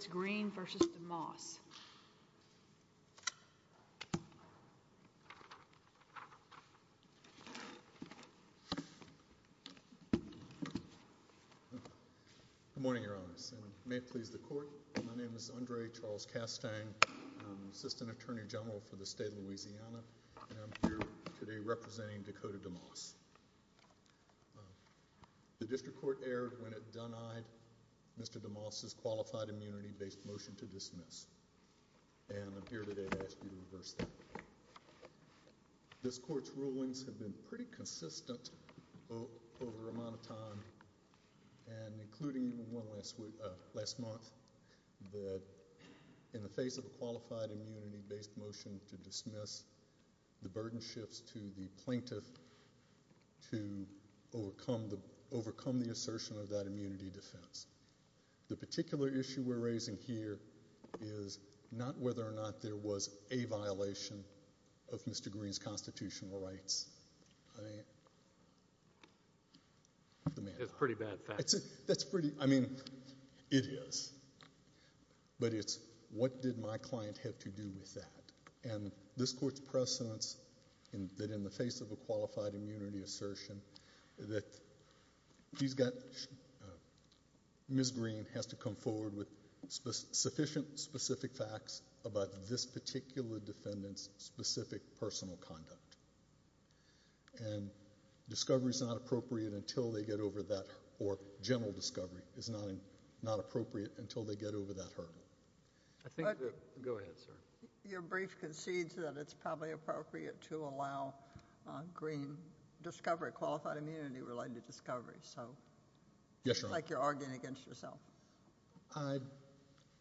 Good morning, Your Honors, and may it please the Court, my name is Andre Charles Castang, I'm Assistant Attorney General for the State of Louisiana, and I'm here today representing Dakota DeMoss. The District Court erred when it denied Mr. DeMoss' qualified immunity-based motion to dismiss, and I'm here today to ask you to reverse that. This Court's rulings have been pretty consistent over a amount of time, and including one last month, that in the face of a qualified immunity-based motion to dismiss, the burden shifts to the court to overcome the assertion of that immunity defense. The particular issue we're raising here is not whether or not there was a violation of Mr. Greene's constitutional rights, I mean, that's pretty, I mean, it is, but it's what did my client have to do with that, and this Court's precedence in that in the face of a qualified immunity assertion that he's got, Ms. Greene has to come forward with sufficient specific facts about this particular defendant's specific personal conduct, and discovery's not appropriate until they get over that, or general discovery is not appropriate until they get over that hurdle. I think that, go ahead, sir. Your brief concedes that it's probably appropriate to allow Greene discovery, qualified immunity-related discovery, so. Yes, Your Honor. It's like you're arguing against yourself. I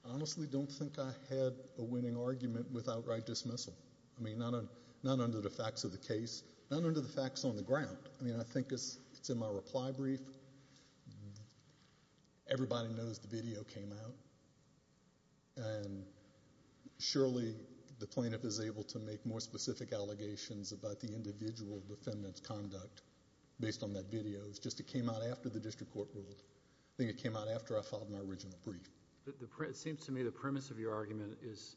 honestly don't think I had a winning argument without right dismissal, I mean, not under the facts of the case, not under the facts on the ground, I mean, I think it's in my opinion, the plaintiff is able to make more specific allegations about the individual defendant's conduct based on that video, it's just it came out after the district court ruled. I think it came out after I filed my original brief. It seems to me the premise of your argument is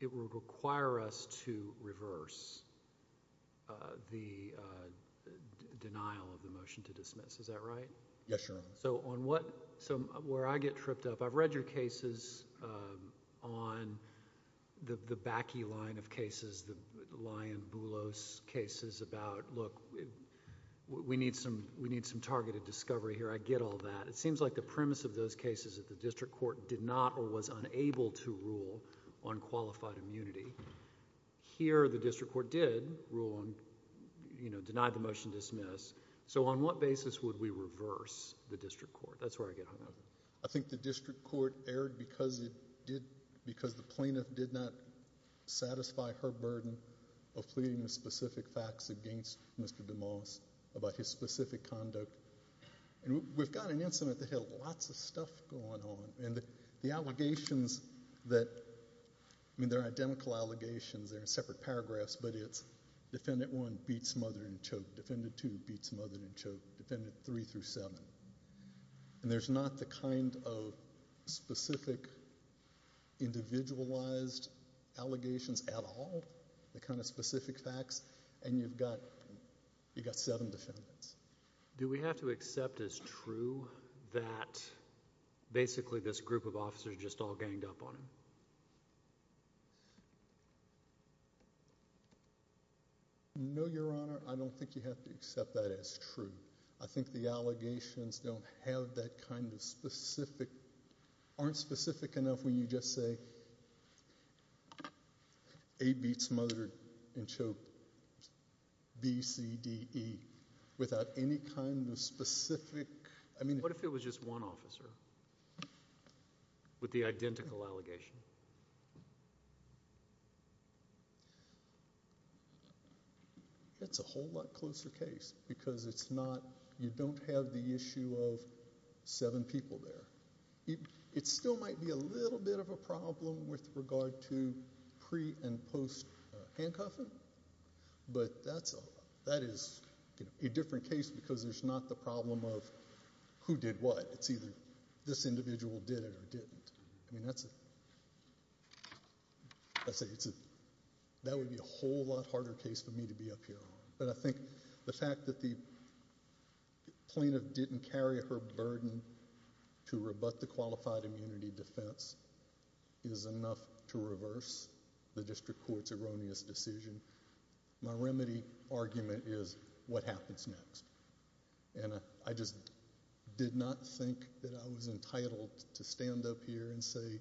it will require us to reverse the denial of the motion to dismiss. Is that right? Yes, Your Honor. So, on what... where I get tripped up, I've read your cases on the backy line of cases, the Lyon-Boulos cases about, look, we need some targeted discovery here, I get all that. It seems like the premise of those cases that the district court did not or was unable to rule on qualified immunity, here the district court did rule on, denied the motion to dismiss, so on what basis would we reverse the district court? That's where I get hung up. I think the district court erred because it did... because the plaintiff did not satisfy her burden of pleading the specific facts against Mr. DeMoss about his specific conduct. We've got an incident that had lots of stuff going on and the allegations that, I mean, they're identical allegations, they're in separate paragraphs, but it's defendant one beat smothered and choked, defendant two beat smothered and choked, defendant three through seven. And there's not the kind of specific individualized allegations at all, the kind of specific facts, and you've got... you've got seven defendants. Do we have to accept as true that basically this group of officers just all ganged up on him? No, Your Honor, I don't think you have to accept that as true. I think the allegations don't have that kind of specific... aren't specific enough when you just say, A beats smothered and choked, B, C, D, E, without any kind of specific... What if it was just one officer with the identical allegation? It's a whole lot closer case because it's not... you don't have the issue of seven people there. It still might be a little bit of a problem with regard to pre- and post-handcuffing, but that is a different case because there's not the problem of who did what. It's either this individual did it or didn't. That would be a whole lot harder case for me to be up here on, but I think the fact that the plaintiff didn't carry her burden to rebut the qualified immunity defense is enough to reverse the district court's erroneous decision. My remedy argument is what happens next? I just did not think that I was entitled to stand up here and say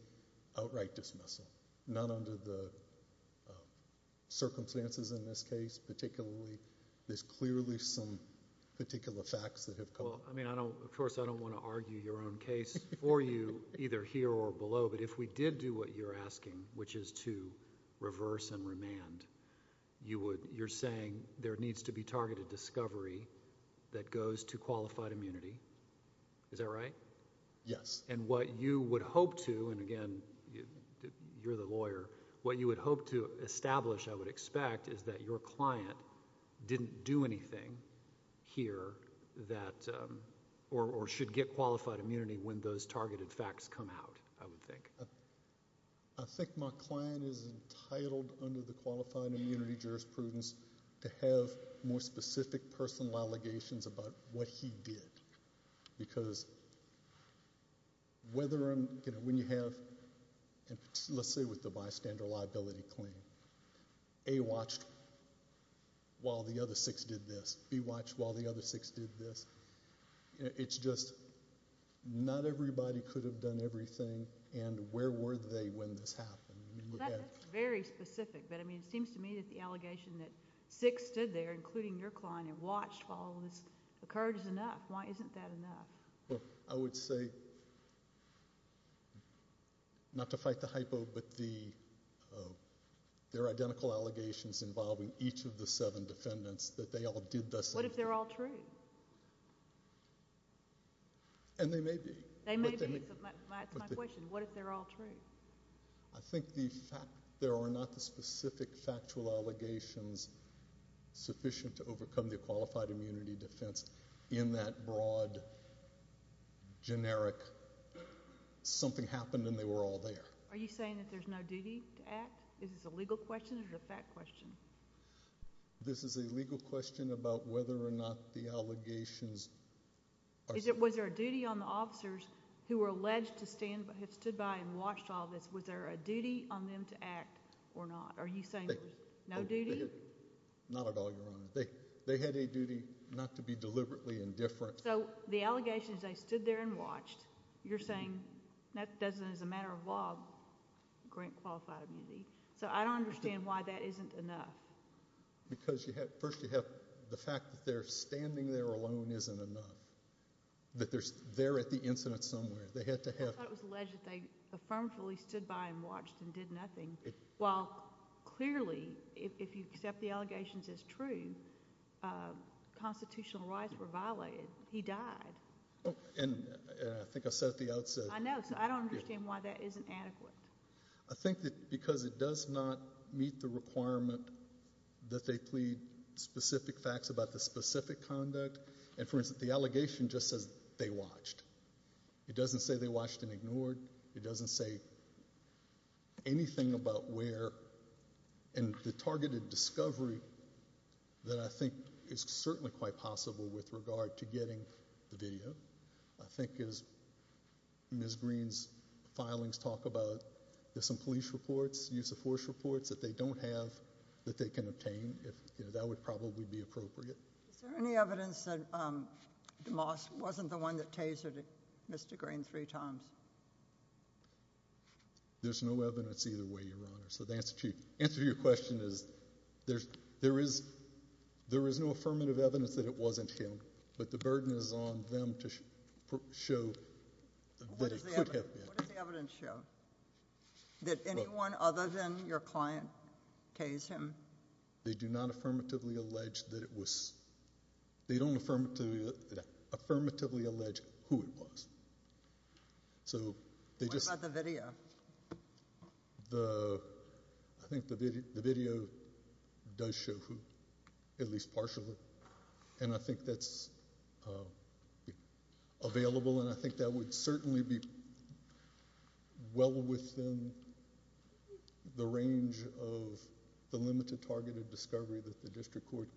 outright dismissal, not under the circumstances in this case, particularly there's clearly some particular facts that have... Of course, I don't want to argue your own case for you either here or below, but if we did do what you're asking, which is to reverse and remand, you're saying there needs to be targeted discovery that goes to qualified immunity, is that right? Yes. What you would hope to, and again, you're the lawyer, what you would hope to establish I would expect is that your client didn't do anything here that... or should get qualified immunity when those targeted facts come out, I would think. I think my client is entitled under the qualified immunity jurisprudence to have more specific personal allegations about what he did because whether I'm... when you have... let's say with the bystander liability claim, A watched while the other six did this, B watched while the other six did this, it's just not everybody could have done everything and where were they when this happened? I mean, look at... That's very specific, but I mean it seems to me that the allegation that six stood there, including your client, and watched while this occurred is enough. Why isn't that enough? I would say, not to fight the hypo, but the... there are identical allegations involving each of the seven defendants that they all did this. What if they're all true? And they may be. They may be. That's my question. What if they're all true? I think the fact... there are not the specific factual allegations sufficient to overcome the qualified immunity defense in that broad, generic, something happened and they were all there. Are you saying that there's no duty to act? Is this a legal question or a fact question? This is a legal question about whether or not the allegations... Was there a duty on the officers who were alleged to stand... have stood by and watched all this, was there a duty on them to act or not? Are you saying there's no duty? Not at all, Your Honor. They had a duty not to be deliberately indifferent. So the allegations they stood there and watched, you're saying that doesn't, as a matter of law, grant qualified immunity. So I don't understand why that isn't enough. Because first you have the fact that they're standing there alone isn't enough, that they're at the incident somewhere. They had to have... I thought it was alleged that they affirmatively stood by and watched and did nothing, while clearly if you accept the allegations as true, constitutional rights were violated. He died. And I think I said at the outset... I know. So I don't understand why that isn't adequate. I think that because it does not meet the requirement that they plead specific facts about the specific conduct, and for instance, the allegation just says they watched. It doesn't say they watched and ignored. It doesn't say anything about where... and the targeted discovery that I think is certainly quite possible with regard to getting the video, I think as Ms. Green's filings talk about, there's some police reports, use of force reports that they don't have that they can obtain. That would probably be appropriate. Is there any evidence that DeMoss wasn't the one that tasered Mr. Green three times? There's no evidence either way, Your Honor. So the answer to your question is there is no affirmative evidence that it wasn't him, What does the evidence show? That anyone other than your client tased him? They do not affirmatively allege that it was... they don't affirmatively allege who it was. So they just... What about the video? The... I think the video does show who, at least partially, and I think that's available and I think that would certainly be well within the range of the limited targeted discovery that the district court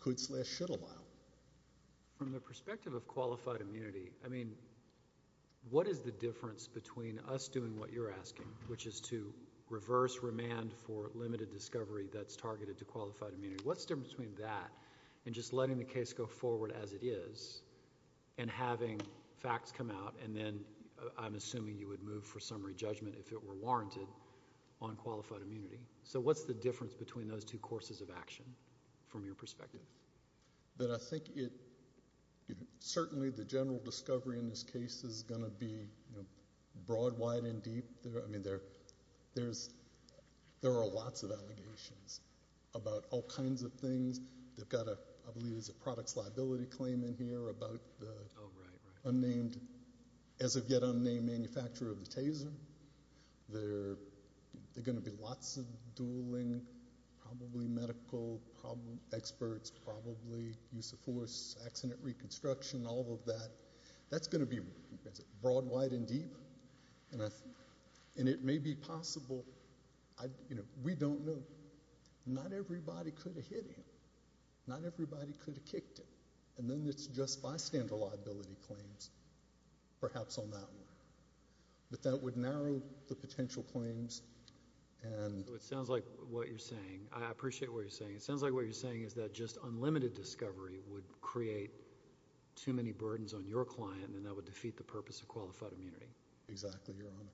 could slash should allow. From the perspective of qualified immunity, I mean, what is the difference between us doing what you're asking, which is to reverse remand for limited discovery that's targeted to qualified immunity? What's the difference between that and just letting the case go forward as it is and having facts come out and then I'm assuming you would move for summary judgment if it were warranted on qualified immunity? So what's the difference between those two courses of action from your perspective? I think it... certainly the general discovery in this case is going to be broad, wide, and deep. I mean, there are lots of allegations about all kinds of things. They've got a, I believe it's a products liability claim in here about the unnamed, as of yet unnamed, manufacturer of the taser. There are going to be lots of dueling, probably medical experts, probably use of force, accident reconstruction, all of that. That's going to be broad, wide, and deep, and it may be possible, you know, we don't know. Not everybody could have hit him. Not everybody could have kicked him, and then it's just bystander liability claims, perhaps on that one, but that would narrow the potential claims and... So it sounds like what you're saying, I appreciate what you're saying, it sounds like what you're saying is that general discovery would create too many burdens on your client and that would defeat the purpose of qualified immunity. Exactly, Your Honor.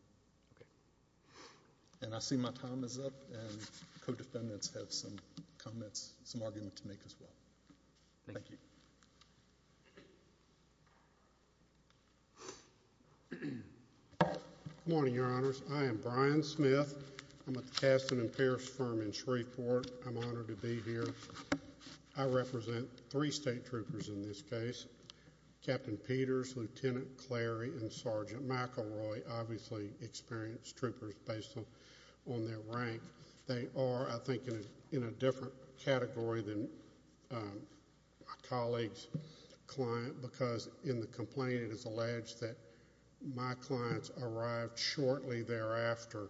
And I see my time is up, and co-defendants have some comments, some argument to make as well. Thank you. Good morning, Your Honors. I am Brian Smith. I'm with the Kasten and Parrish firm in Shreveport. I'm honored to be here. I represent three state troopers in this case, Captain Peters, Lieutenant Clary, and Sergeant McElroy, obviously experienced troopers based on their rank. They are, I think, in a different category than my colleague's client because in the complaint it is alleged that my clients arrived shortly thereafter,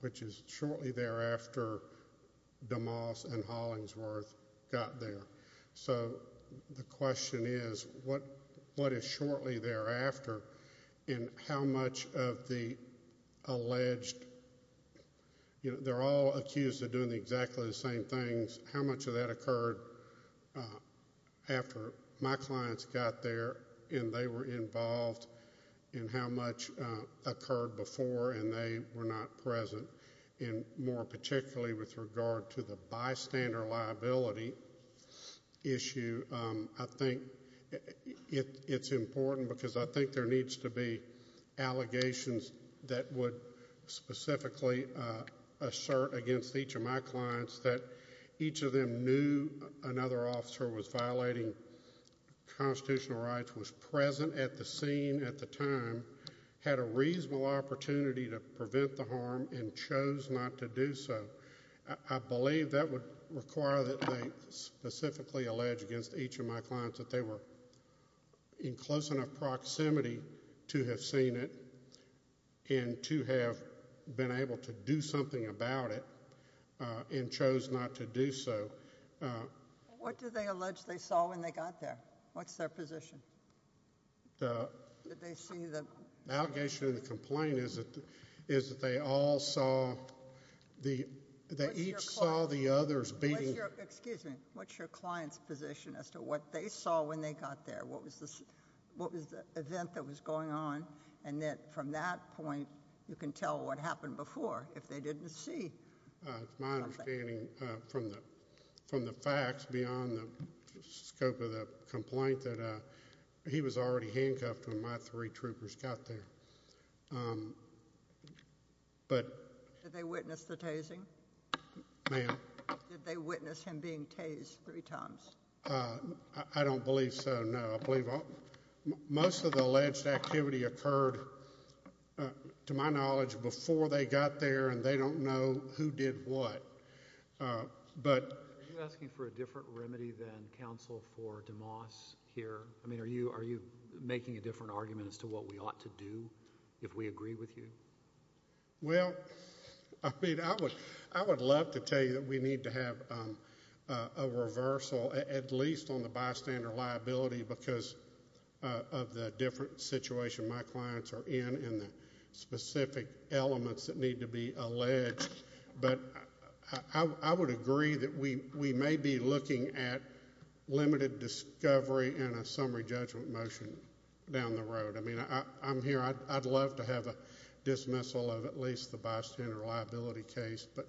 which is shortly thereafter DeMoss and Hollingsworth got there. So the question is, what is shortly thereafter, and how much of the alleged... they're all accused of doing exactly the same things. How much of that occurred after my clients got there and they were involved, and how much occurred before and they were not present, and more particularly with regard to the bystander liability issue, I think it's important because I think there needs to be allegations that would specifically assert against each of my clients that each of them knew another had a reasonable opportunity to prevent the harm and chose not to do so. I believe that would require that they specifically allege against each of my clients that they were in close enough proximity to have seen it and to have been able to do something about it and chose not to do so. What do they allege they saw when they got there? What's their position? Did they see the... The allegation and the complaint is that they all saw... they each saw the others being... What's your client's position as to what they saw when they got there? What was the event that was going on, and that from that point, you can tell what happened before if they didn't see... It's my understanding from the facts beyond the scope of the complaint that he was already handcuffed when my three troopers got there. But... Did they witness the tasing? Ma'am? Did they witness him being tased three times? I don't believe so, no. Most of the alleged activity occurred, to my knowledge, before they got there, and they don't know who did what. But... Are you asking for a different remedy than counsel for DeMoss here? I mean, are you making a different argument as to what we ought to do if we agree with you? Well, I mean, I would love to tell you that we need to have a reversal, at least on the bystander liability, because of the different situation my clients are in and the specific elements that need to be alleged. But I would agree that we may be looking at limited discovery and a summary judgment motion down the road. I mean, I'm here... I'd love to have a dismissal of at least the bystander liability case, but...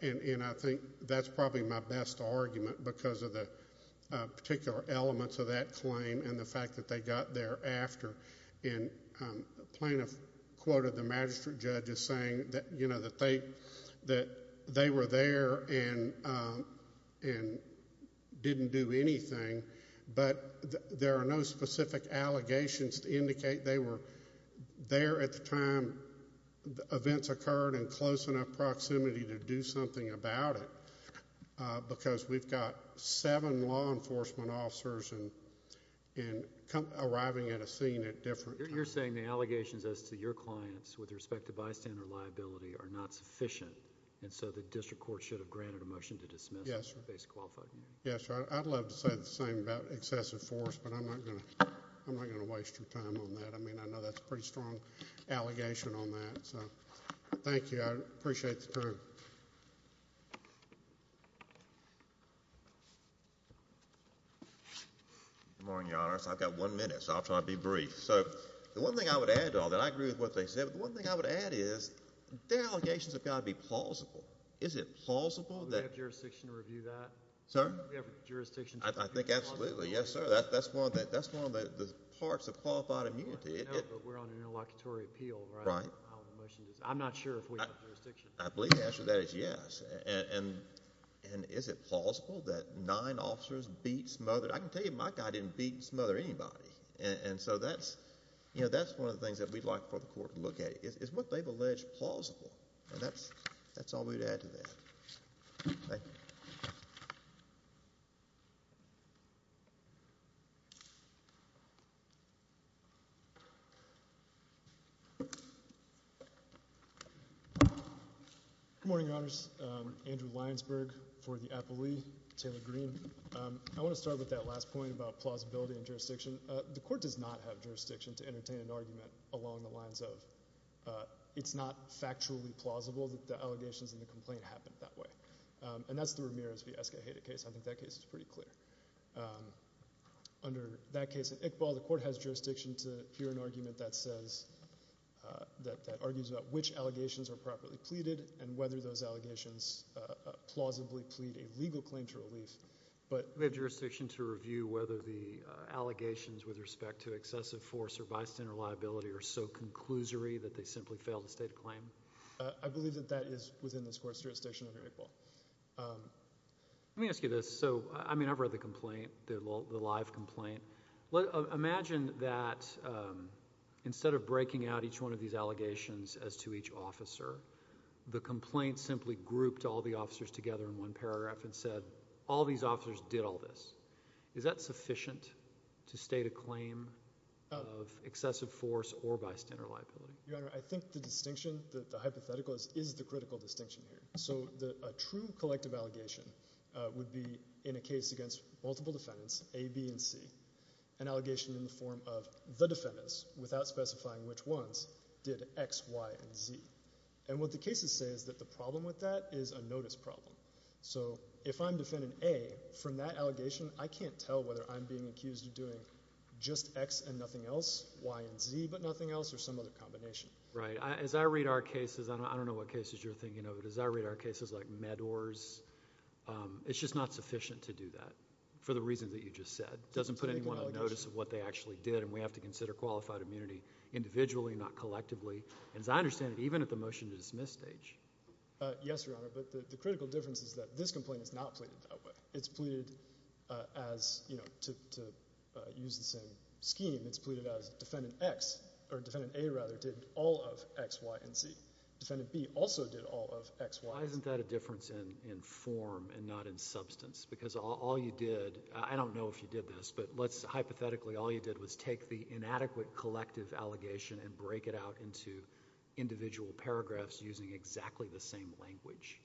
And I think that's probably my best argument because of the particular elements of that claim and the fact that they got there after. And a plaintiff quoted the magistrate judge as saying that, you know, that they were there and didn't do anything. But there are no specific allegations to indicate they were there at the time events occurred in close enough proximity to do something about it, because we've got seven law enforcement officers and arriving at a scene at different... You're saying the allegations as to your clients with respect to bystander liability are not sufficient, and so the district court should have granted a motion to dismiss... Yes, sir.... based on qualified... Yes, sir. I'd love to say the same about excessive force, but I'm not going to waste your time on that. I mean, I know that's a pretty strong allegation on that. Thank you. Thank you. Thank you. Thank you. Thank you. Thank you. Thank you. Thank you. Good morning, Your Honor. So I've got one minute, so I'll try to be brief. So the one thing I would add to all that, I agree with what they said, but the one thing I would add is their allegations have got to be plausible. Is it plausible that... Do we have jurisdiction to review that? Sir? Do we have jurisdiction to review... I think absolutely. Yes, sir. That's one of the parts of qualified immunity. I know, but we're on an interlocutory appeal, right? Right. I'm not sure if we have jurisdiction. Yes, sir. And is it plausible that nine officers beats Mother Teresa? Yes, sir. And is it plausible that nine officers beats Mother Teresa? Yes, sir. I can tell you my guy didn't beat Mother anybody. And so that's one of the things that we'd like for the Court to look at is what they've alleged plausible. And that's all we would add to that. Thank you. Good morning, Your Honors. Andrew Lyonsberg for the apollye. Taylor Greene. I want to start with that last point about plausibility and jurisdiction. The Court does not have jurisdiction to entertain an argument along the lines of it's not factually plausible that the allegations in the complaint happened that way. And that's the Ramirez v. Escajeda case. I think that case is pretty clear. Under that case in Iqbal, the Court has jurisdiction to hear an argument that argues about which allegations are properly pleaded and whether those allegations plausibly plead a legal claim to relief. But... We have jurisdiction to review whether the allegations with respect to excessive force or bystander liability are so conclusory that they simply fail to state a claim? I believe that that is within this Court's jurisdiction under Iqbal. Let me ask you this. So, I mean, I've read the complaint, the live complaint. Imagine that instead of breaking out each one of these allegations as to each officer, the complaint simply grouped all the officers together in one paragraph and said, all these officers did all this. Is that sufficient to state a claim of excessive force or bystander liability? Your Honor, I think the distinction, the hypothetical, is the critical distinction here. So a true collective allegation would be in a case against multiple defendants, A, B, and C, an allegation in the form of the defendants, without specifying which ones, did X, Y, and Z. And what the cases say is that the problem with that is a notice problem. So if I'm Defendant A, from that allegation, I can't tell whether I'm being accused of doing just X and nothing else, Y and Z but nothing else, or some other combination. Right. As I read our cases, I don't know what cases you're thinking of, but as I read our cases like MEDOR's, it's just not sufficient to do that for the reasons that you just said. Doesn't put anyone on notice of what they actually did, and we have to consider qualified immunity individually, not collectively. And as I understand it, even at the motion to dismiss stage. Yes, Your Honor, but the critical difference is that this complaint is not pleaded that way. It's pleaded as, you know, to use the same scheme, it's pleaded as Defendant X, or Defendant A rather, did all of X, Y, and Z. Defendant B also did all of X, Y, and Z. Why isn't that a difference in form and not in substance? Because all you did, I don't know if you did this, but let's hypothetically, all you did was take the inadequate collective allegation and break it out into individual paragraphs using exactly the same language.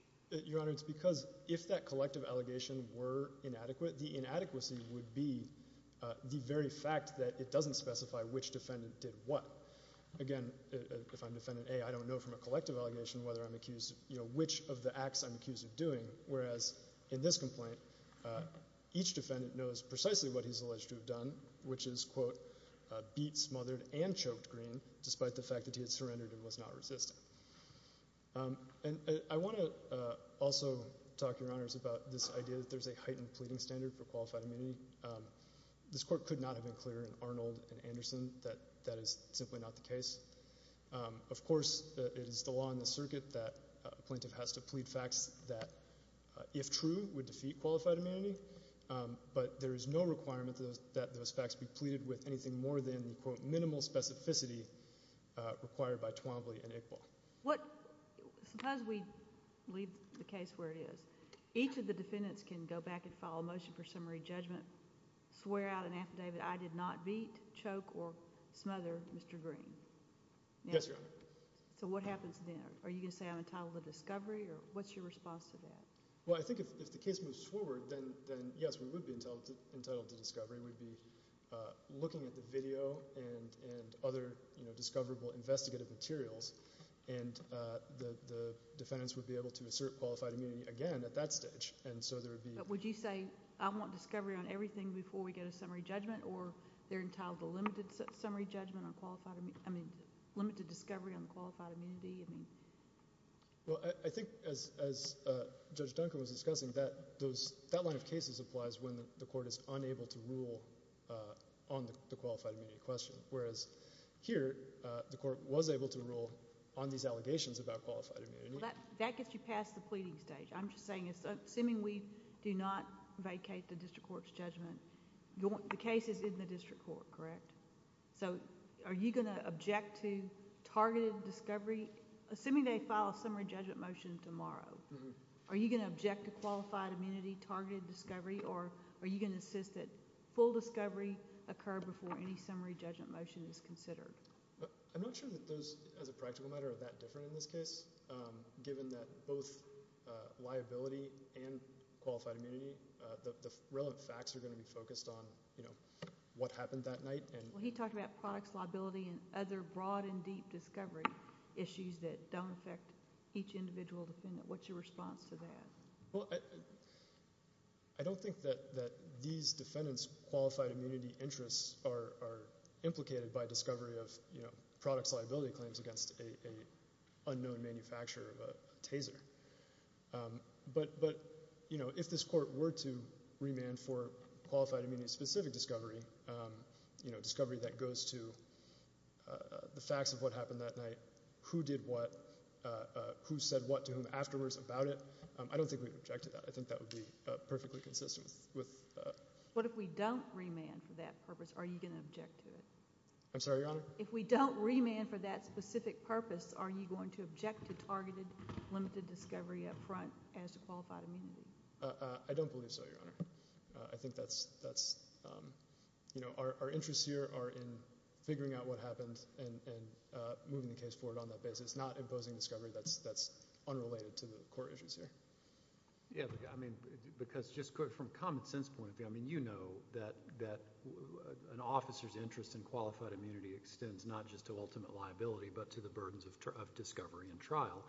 Your Honor, it's because if that collective allegation were inadequate, the inadequacy would be the very fact that it doesn't specify which defendant did what. Again, if I'm Defendant A, I don't know from a collective allegation whether I'm accused of, you know, which of the acts I'm accused of doing, whereas in this complaint, each defendant was both beat, smothered, and choked green, despite the fact that he had surrendered and was not resistant. And I want to also talk, Your Honors, about this idea that there's a heightened pleading standard for qualified immunity. This Court could not have been clearer in Arnold and Anderson that that is simply not the case. Of course, it is the law in the circuit that a plaintiff has to plead facts that, if true, would defeat qualified immunity, but there is no requirement that those facts be pleaded with anything more than the, quote, minimal specificity required by Twombly and Iqbal. What, suppose we leave the case where it is. Each of the defendants can go back and file a motion for summary judgment, swear out an affidavit, I did not beat, choke, or smother Mr. Green. Yes, Your Honor. So what happens then? Are you going to say I'm entitled to discovery, or what's your response to that? Well, I think if the case moves forward, then yes, we would be entitled to discovery. We'd be looking at the video and other discoverable investigative materials, and the defendants would be able to assert qualified immunity again at that stage. And so there would be— But would you say, I want discovery on everything before we get a summary judgment, or they're entitled to limited summary judgment on qualified—I mean, limited discovery on qualified immunity? I mean— Well, I think, as Judge Duncombe was discussing, that line of cases applies when the Court is unable to rule on the qualified immunity question, whereas here, the Court was able to rule on these allegations about qualified immunity. That gets you past the pleading stage. I'm just saying, assuming we do not vacate the district court's judgment, the case is in the district court, correct? So are you going to object to targeted discovery, assuming they file a summary judgment motion tomorrow? Are you going to object to qualified immunity, targeted discovery, or are you going to insist that full discovery occur before any summary judgment motion is considered? I'm not sure that those, as a practical matter, are that different in this case, given that both liability and qualified immunity, the relevant facts are going to be focused on, you know, what happened that night and— Well, he talked about products, liability, and other broad and deep discovery issues that don't affect each individual defendant. What's your response to that? I don't think that these defendants' qualified immunity interests are implicated by discovery of, you know, products, liability claims against an unknown manufacturer of a taser. But if this Court were to remand for qualified immunity-specific discovery, you know, discovery that goes to the facts of what happened that night, who did what, who said what to whom afterwards about it, I don't think we'd object to that. I think that would be perfectly consistent with— What if we don't remand for that purpose? Are you going to object to it? I'm sorry, Your Honor? If we don't remand for that specific purpose, are you going to object to targeted, limited discovery up front as to qualified immunity? I don't believe so, Your Honor. I think that's, you know, our interests here are in figuring out what happened and moving the case forward on that basis, not imposing discovery that's unrelated to the court issues here. Yeah, I mean, because just from a common-sense point of view, I mean, you know that an officer's interest in qualified immunity extends not just to ultimate liability but to the burdens of discovery and trial.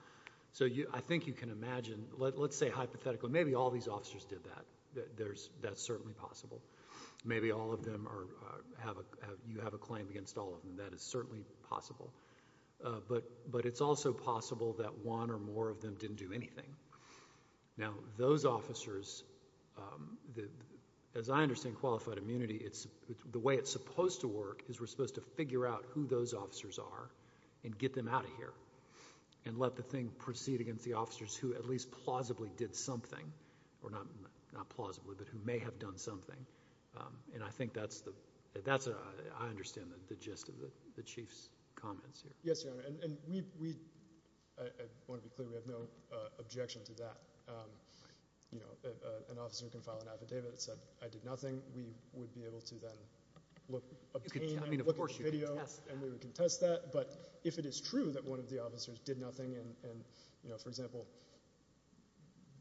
So I think you can imagine, let's say hypothetically, maybe all these officers did that. That's certainly possible. Maybe all of them are, you have a claim against all of them. That is certainly possible. But it's also possible that one or more of them didn't do anything. Now those officers, as I understand qualified immunity, the way it's supposed to work is we're supposed to figure out who those officers are and get them out of here and let the thing go. And I think that's, you know, that's a, I understand the gist of the Chief's comments here. Yes, Your Honor, and we, I want to be clear, we have no objection to that. You know, an officer can file an affidavit that said I did nothing. We would be able to then look at the video and we would contest that. But if it is true that one of the officers did nothing and, you know, for example,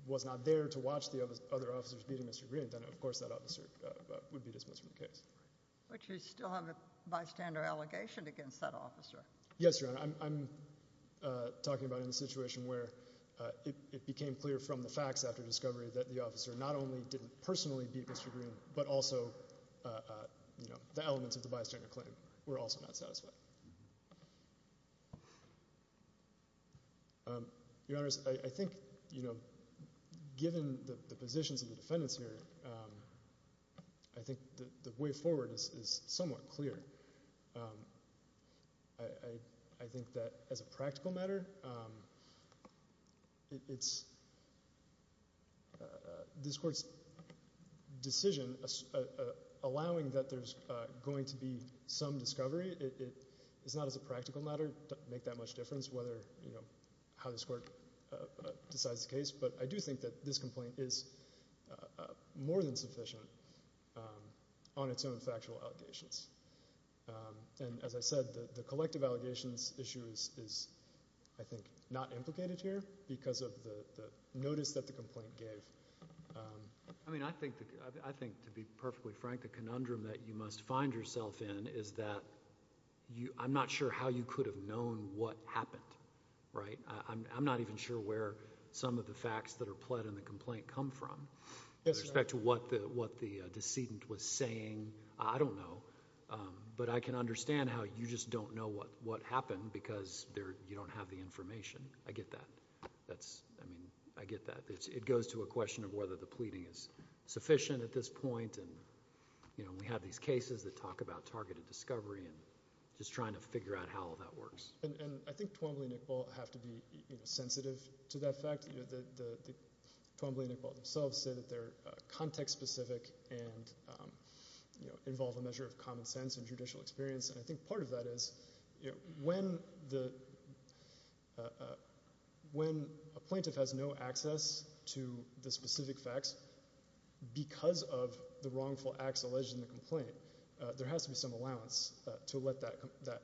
was not there to watch the other officers beating Mr. Greene, then of course that officer would be dismissed from the case. But you still have a bystander allegation against that officer. Yes, Your Honor, I'm talking about in a situation where it became clear from the facts after discovery that the officer not only didn't personally beat Mr. Greene but also, you know, the elements of the bystander claim were also not satisfied. Your Honor, I think, you know, given the positions of the defendants here, I think the way forward is somewhat clear. I think that as a practical matter, it's this Court's decision allowing that there's going to be some discovery, it's not as a practical matter to make that much difference whether, you know, how this Court decides the case. But I do think that this complaint is more than sufficient on its own factual allegations. And as I said, the collective allegations issue is, I think, not implicated here because of the notice that the complaint gave. I mean, I think, to be perfectly frank, the conundrum that you must find yourself in is that I'm not sure how you could have known what happened, right? I'm not even sure where some of the facts that are pled in the complaint come from with respect to what the decedent was saying. I don't know. But I can understand how you just don't know what happened because you don't have the information. I get that. That's, I mean, I get that. It goes to a question of whether the pleading is sufficient at this point and, you know, we have these cases that talk about targeted discovery and just trying to figure out how all that works. And I think Twombly and Iqbal have to be, you know, sensitive to that fact. Twombly and Iqbal themselves say that they're context-specific and, you know, involve a measure of common sense and judicial experience. And I think part of that is, you know, when a plaintiff has no access to the specific facts because of the wrongful acts alleged in the complaint, there has to be some allowance to let that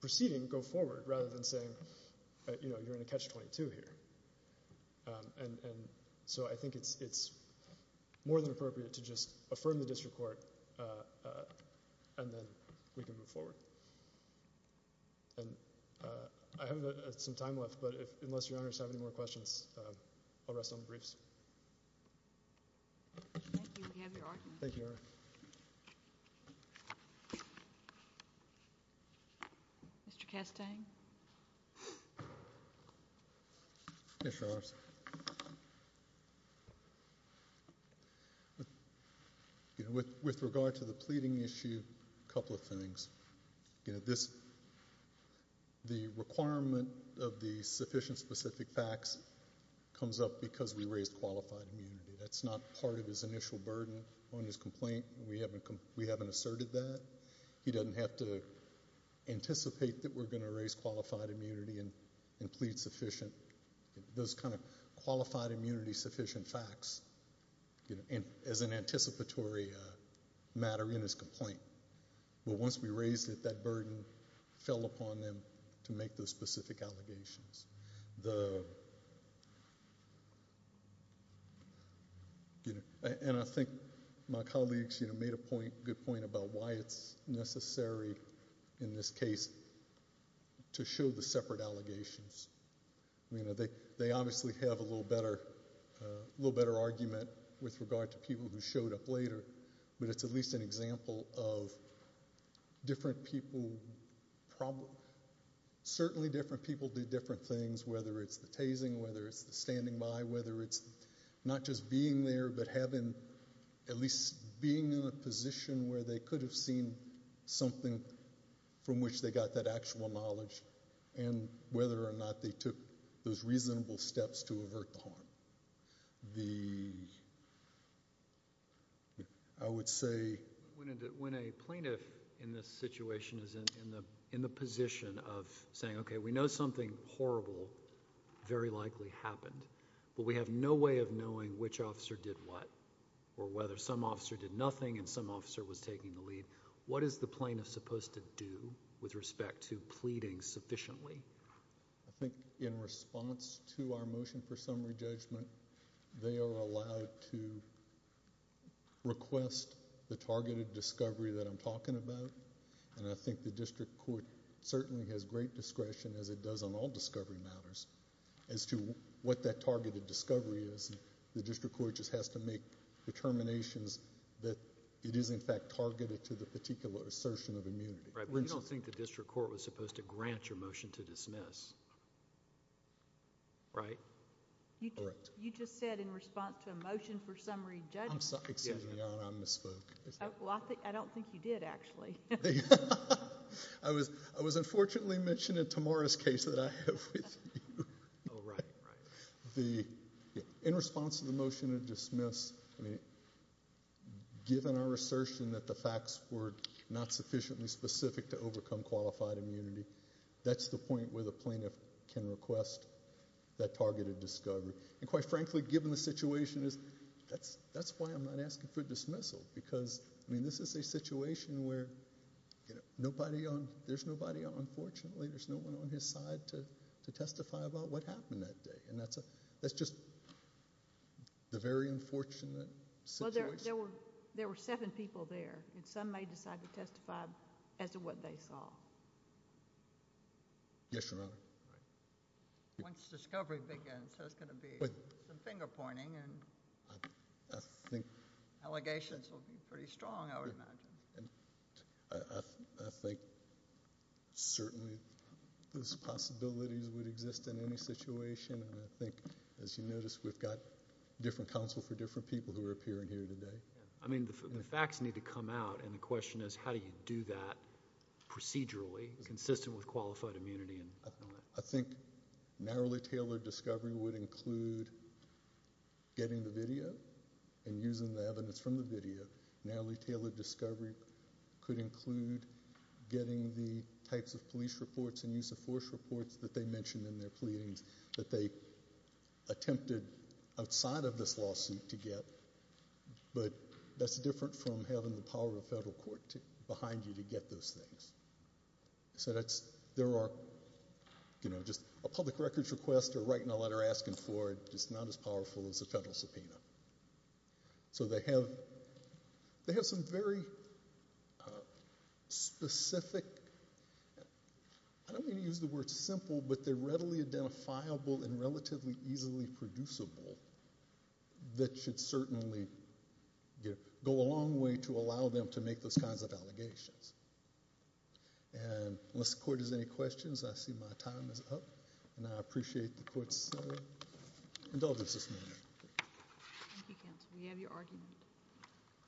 proceeding go forward rather than saying, you know, you're in a catch-22 here. And so I think it's more than appropriate to just affirm the district court and then we can move forward. And I have some time left, but unless Your Honors have any more questions, I'll rest on the briefs. Thank you. We have your argument. Thank you, Your Honor. Mr. Castaing? Yes, Your Honors. With regard to the pleading issue, a couple of things. The requirement of the sufficient specific facts comes up because we raised qualified immunity. That's not part of his initial burden on his complaint. We haven't asserted that. He doesn't have to anticipate that we're going to raise qualified immunity and plead sufficient. Those kind of qualified immunity sufficient facts, you know, as an anticipatory matter in his complaint. But once we raised it, that burden fell upon them to make those specific allegations. The, you know, and I think my colleagues, you know, made a point, good point about why it's necessary in this case to show the separate allegations. You know, they obviously have a little better, a little better argument with regard to people who showed up later, but it's at least an example of different people, certainly different people do different things, whether it's the tasing, whether it's the standing by, whether it's not just being there, but having, at least being in a position where they could have seen something from which they got that actual knowledge and whether or not they took those reasonable steps to avert the harm. I would say— When a plaintiff in this situation is in the position of saying, okay, we know something horrible very likely happened, but we have no way of knowing which officer did what or whether some officer did nothing and some officer was taking the lead, what is the plaintiff supposed to do with respect to pleading sufficiently? I think in response to our motion for summary judgment, they are allowed to request the targeted discovery that I'm talking about, and I think the district court certainly has great discretion, as it does on all discovery matters, as to what that targeted discovery is. The district court just has to make determinations that it is, in fact, targeted to the particular assertion of immunity. Right. But you don't think the district court was supposed to grant your motion to dismiss, right? Correct. You just said in response to a motion for summary judgment. I'm sorry. Excuse me, Your Honor, I misspoke. Well, I don't think you did, actually. I was unfortunately mentioned in Tamara's case that I have with you. Oh, right, right. In response to the motion to dismiss, given our assertion that the facts were not sufficiently specific to overcome qualified immunity, that's the point where the plaintiff can request that targeted discovery. And quite frankly, given the situation, that's why I'm not asking for dismissal, because this is a situation where there's nobody, unfortunately, there's no one on his side to testify about what happened that day, and that's just the very unfortunate situation. Well, there were seven people there, and some may decide to testify as to what they saw. Yes, Your Honor. Once discovery begins, there's going to be some finger-pointing, and allegations will be pretty strong, I would imagine. I think certainly those possibilities would exist in any situation, and I think, as you notice, we've got different counsel for different people who are appearing here today. I mean, the facts need to come out, and the question is, how do you do that procedurally, consistent with qualified immunity, and all that? I think narrowly tailored discovery would include getting the video, and using the evidence from the video. Narrowly tailored discovery could include getting the types of police reports and use of force reports that they mentioned in their pleadings that they attempted outside of this lawsuit to get, but that's different from having the power of federal court behind you to get those things. So that's, there are, you know, just a public records request, or writing a letter asking for it, it's not as powerful as a federal subpoena. So they have some very specific, I don't mean to use the word simple, but they're readily identifiable, and relatively easily producible, that should certainly go a long way to allow them to make those kinds of allegations. And unless the court has any questions, I see my time is up, and I appreciate the court's indulgence this morning. Thank you, counsel. We have your argument.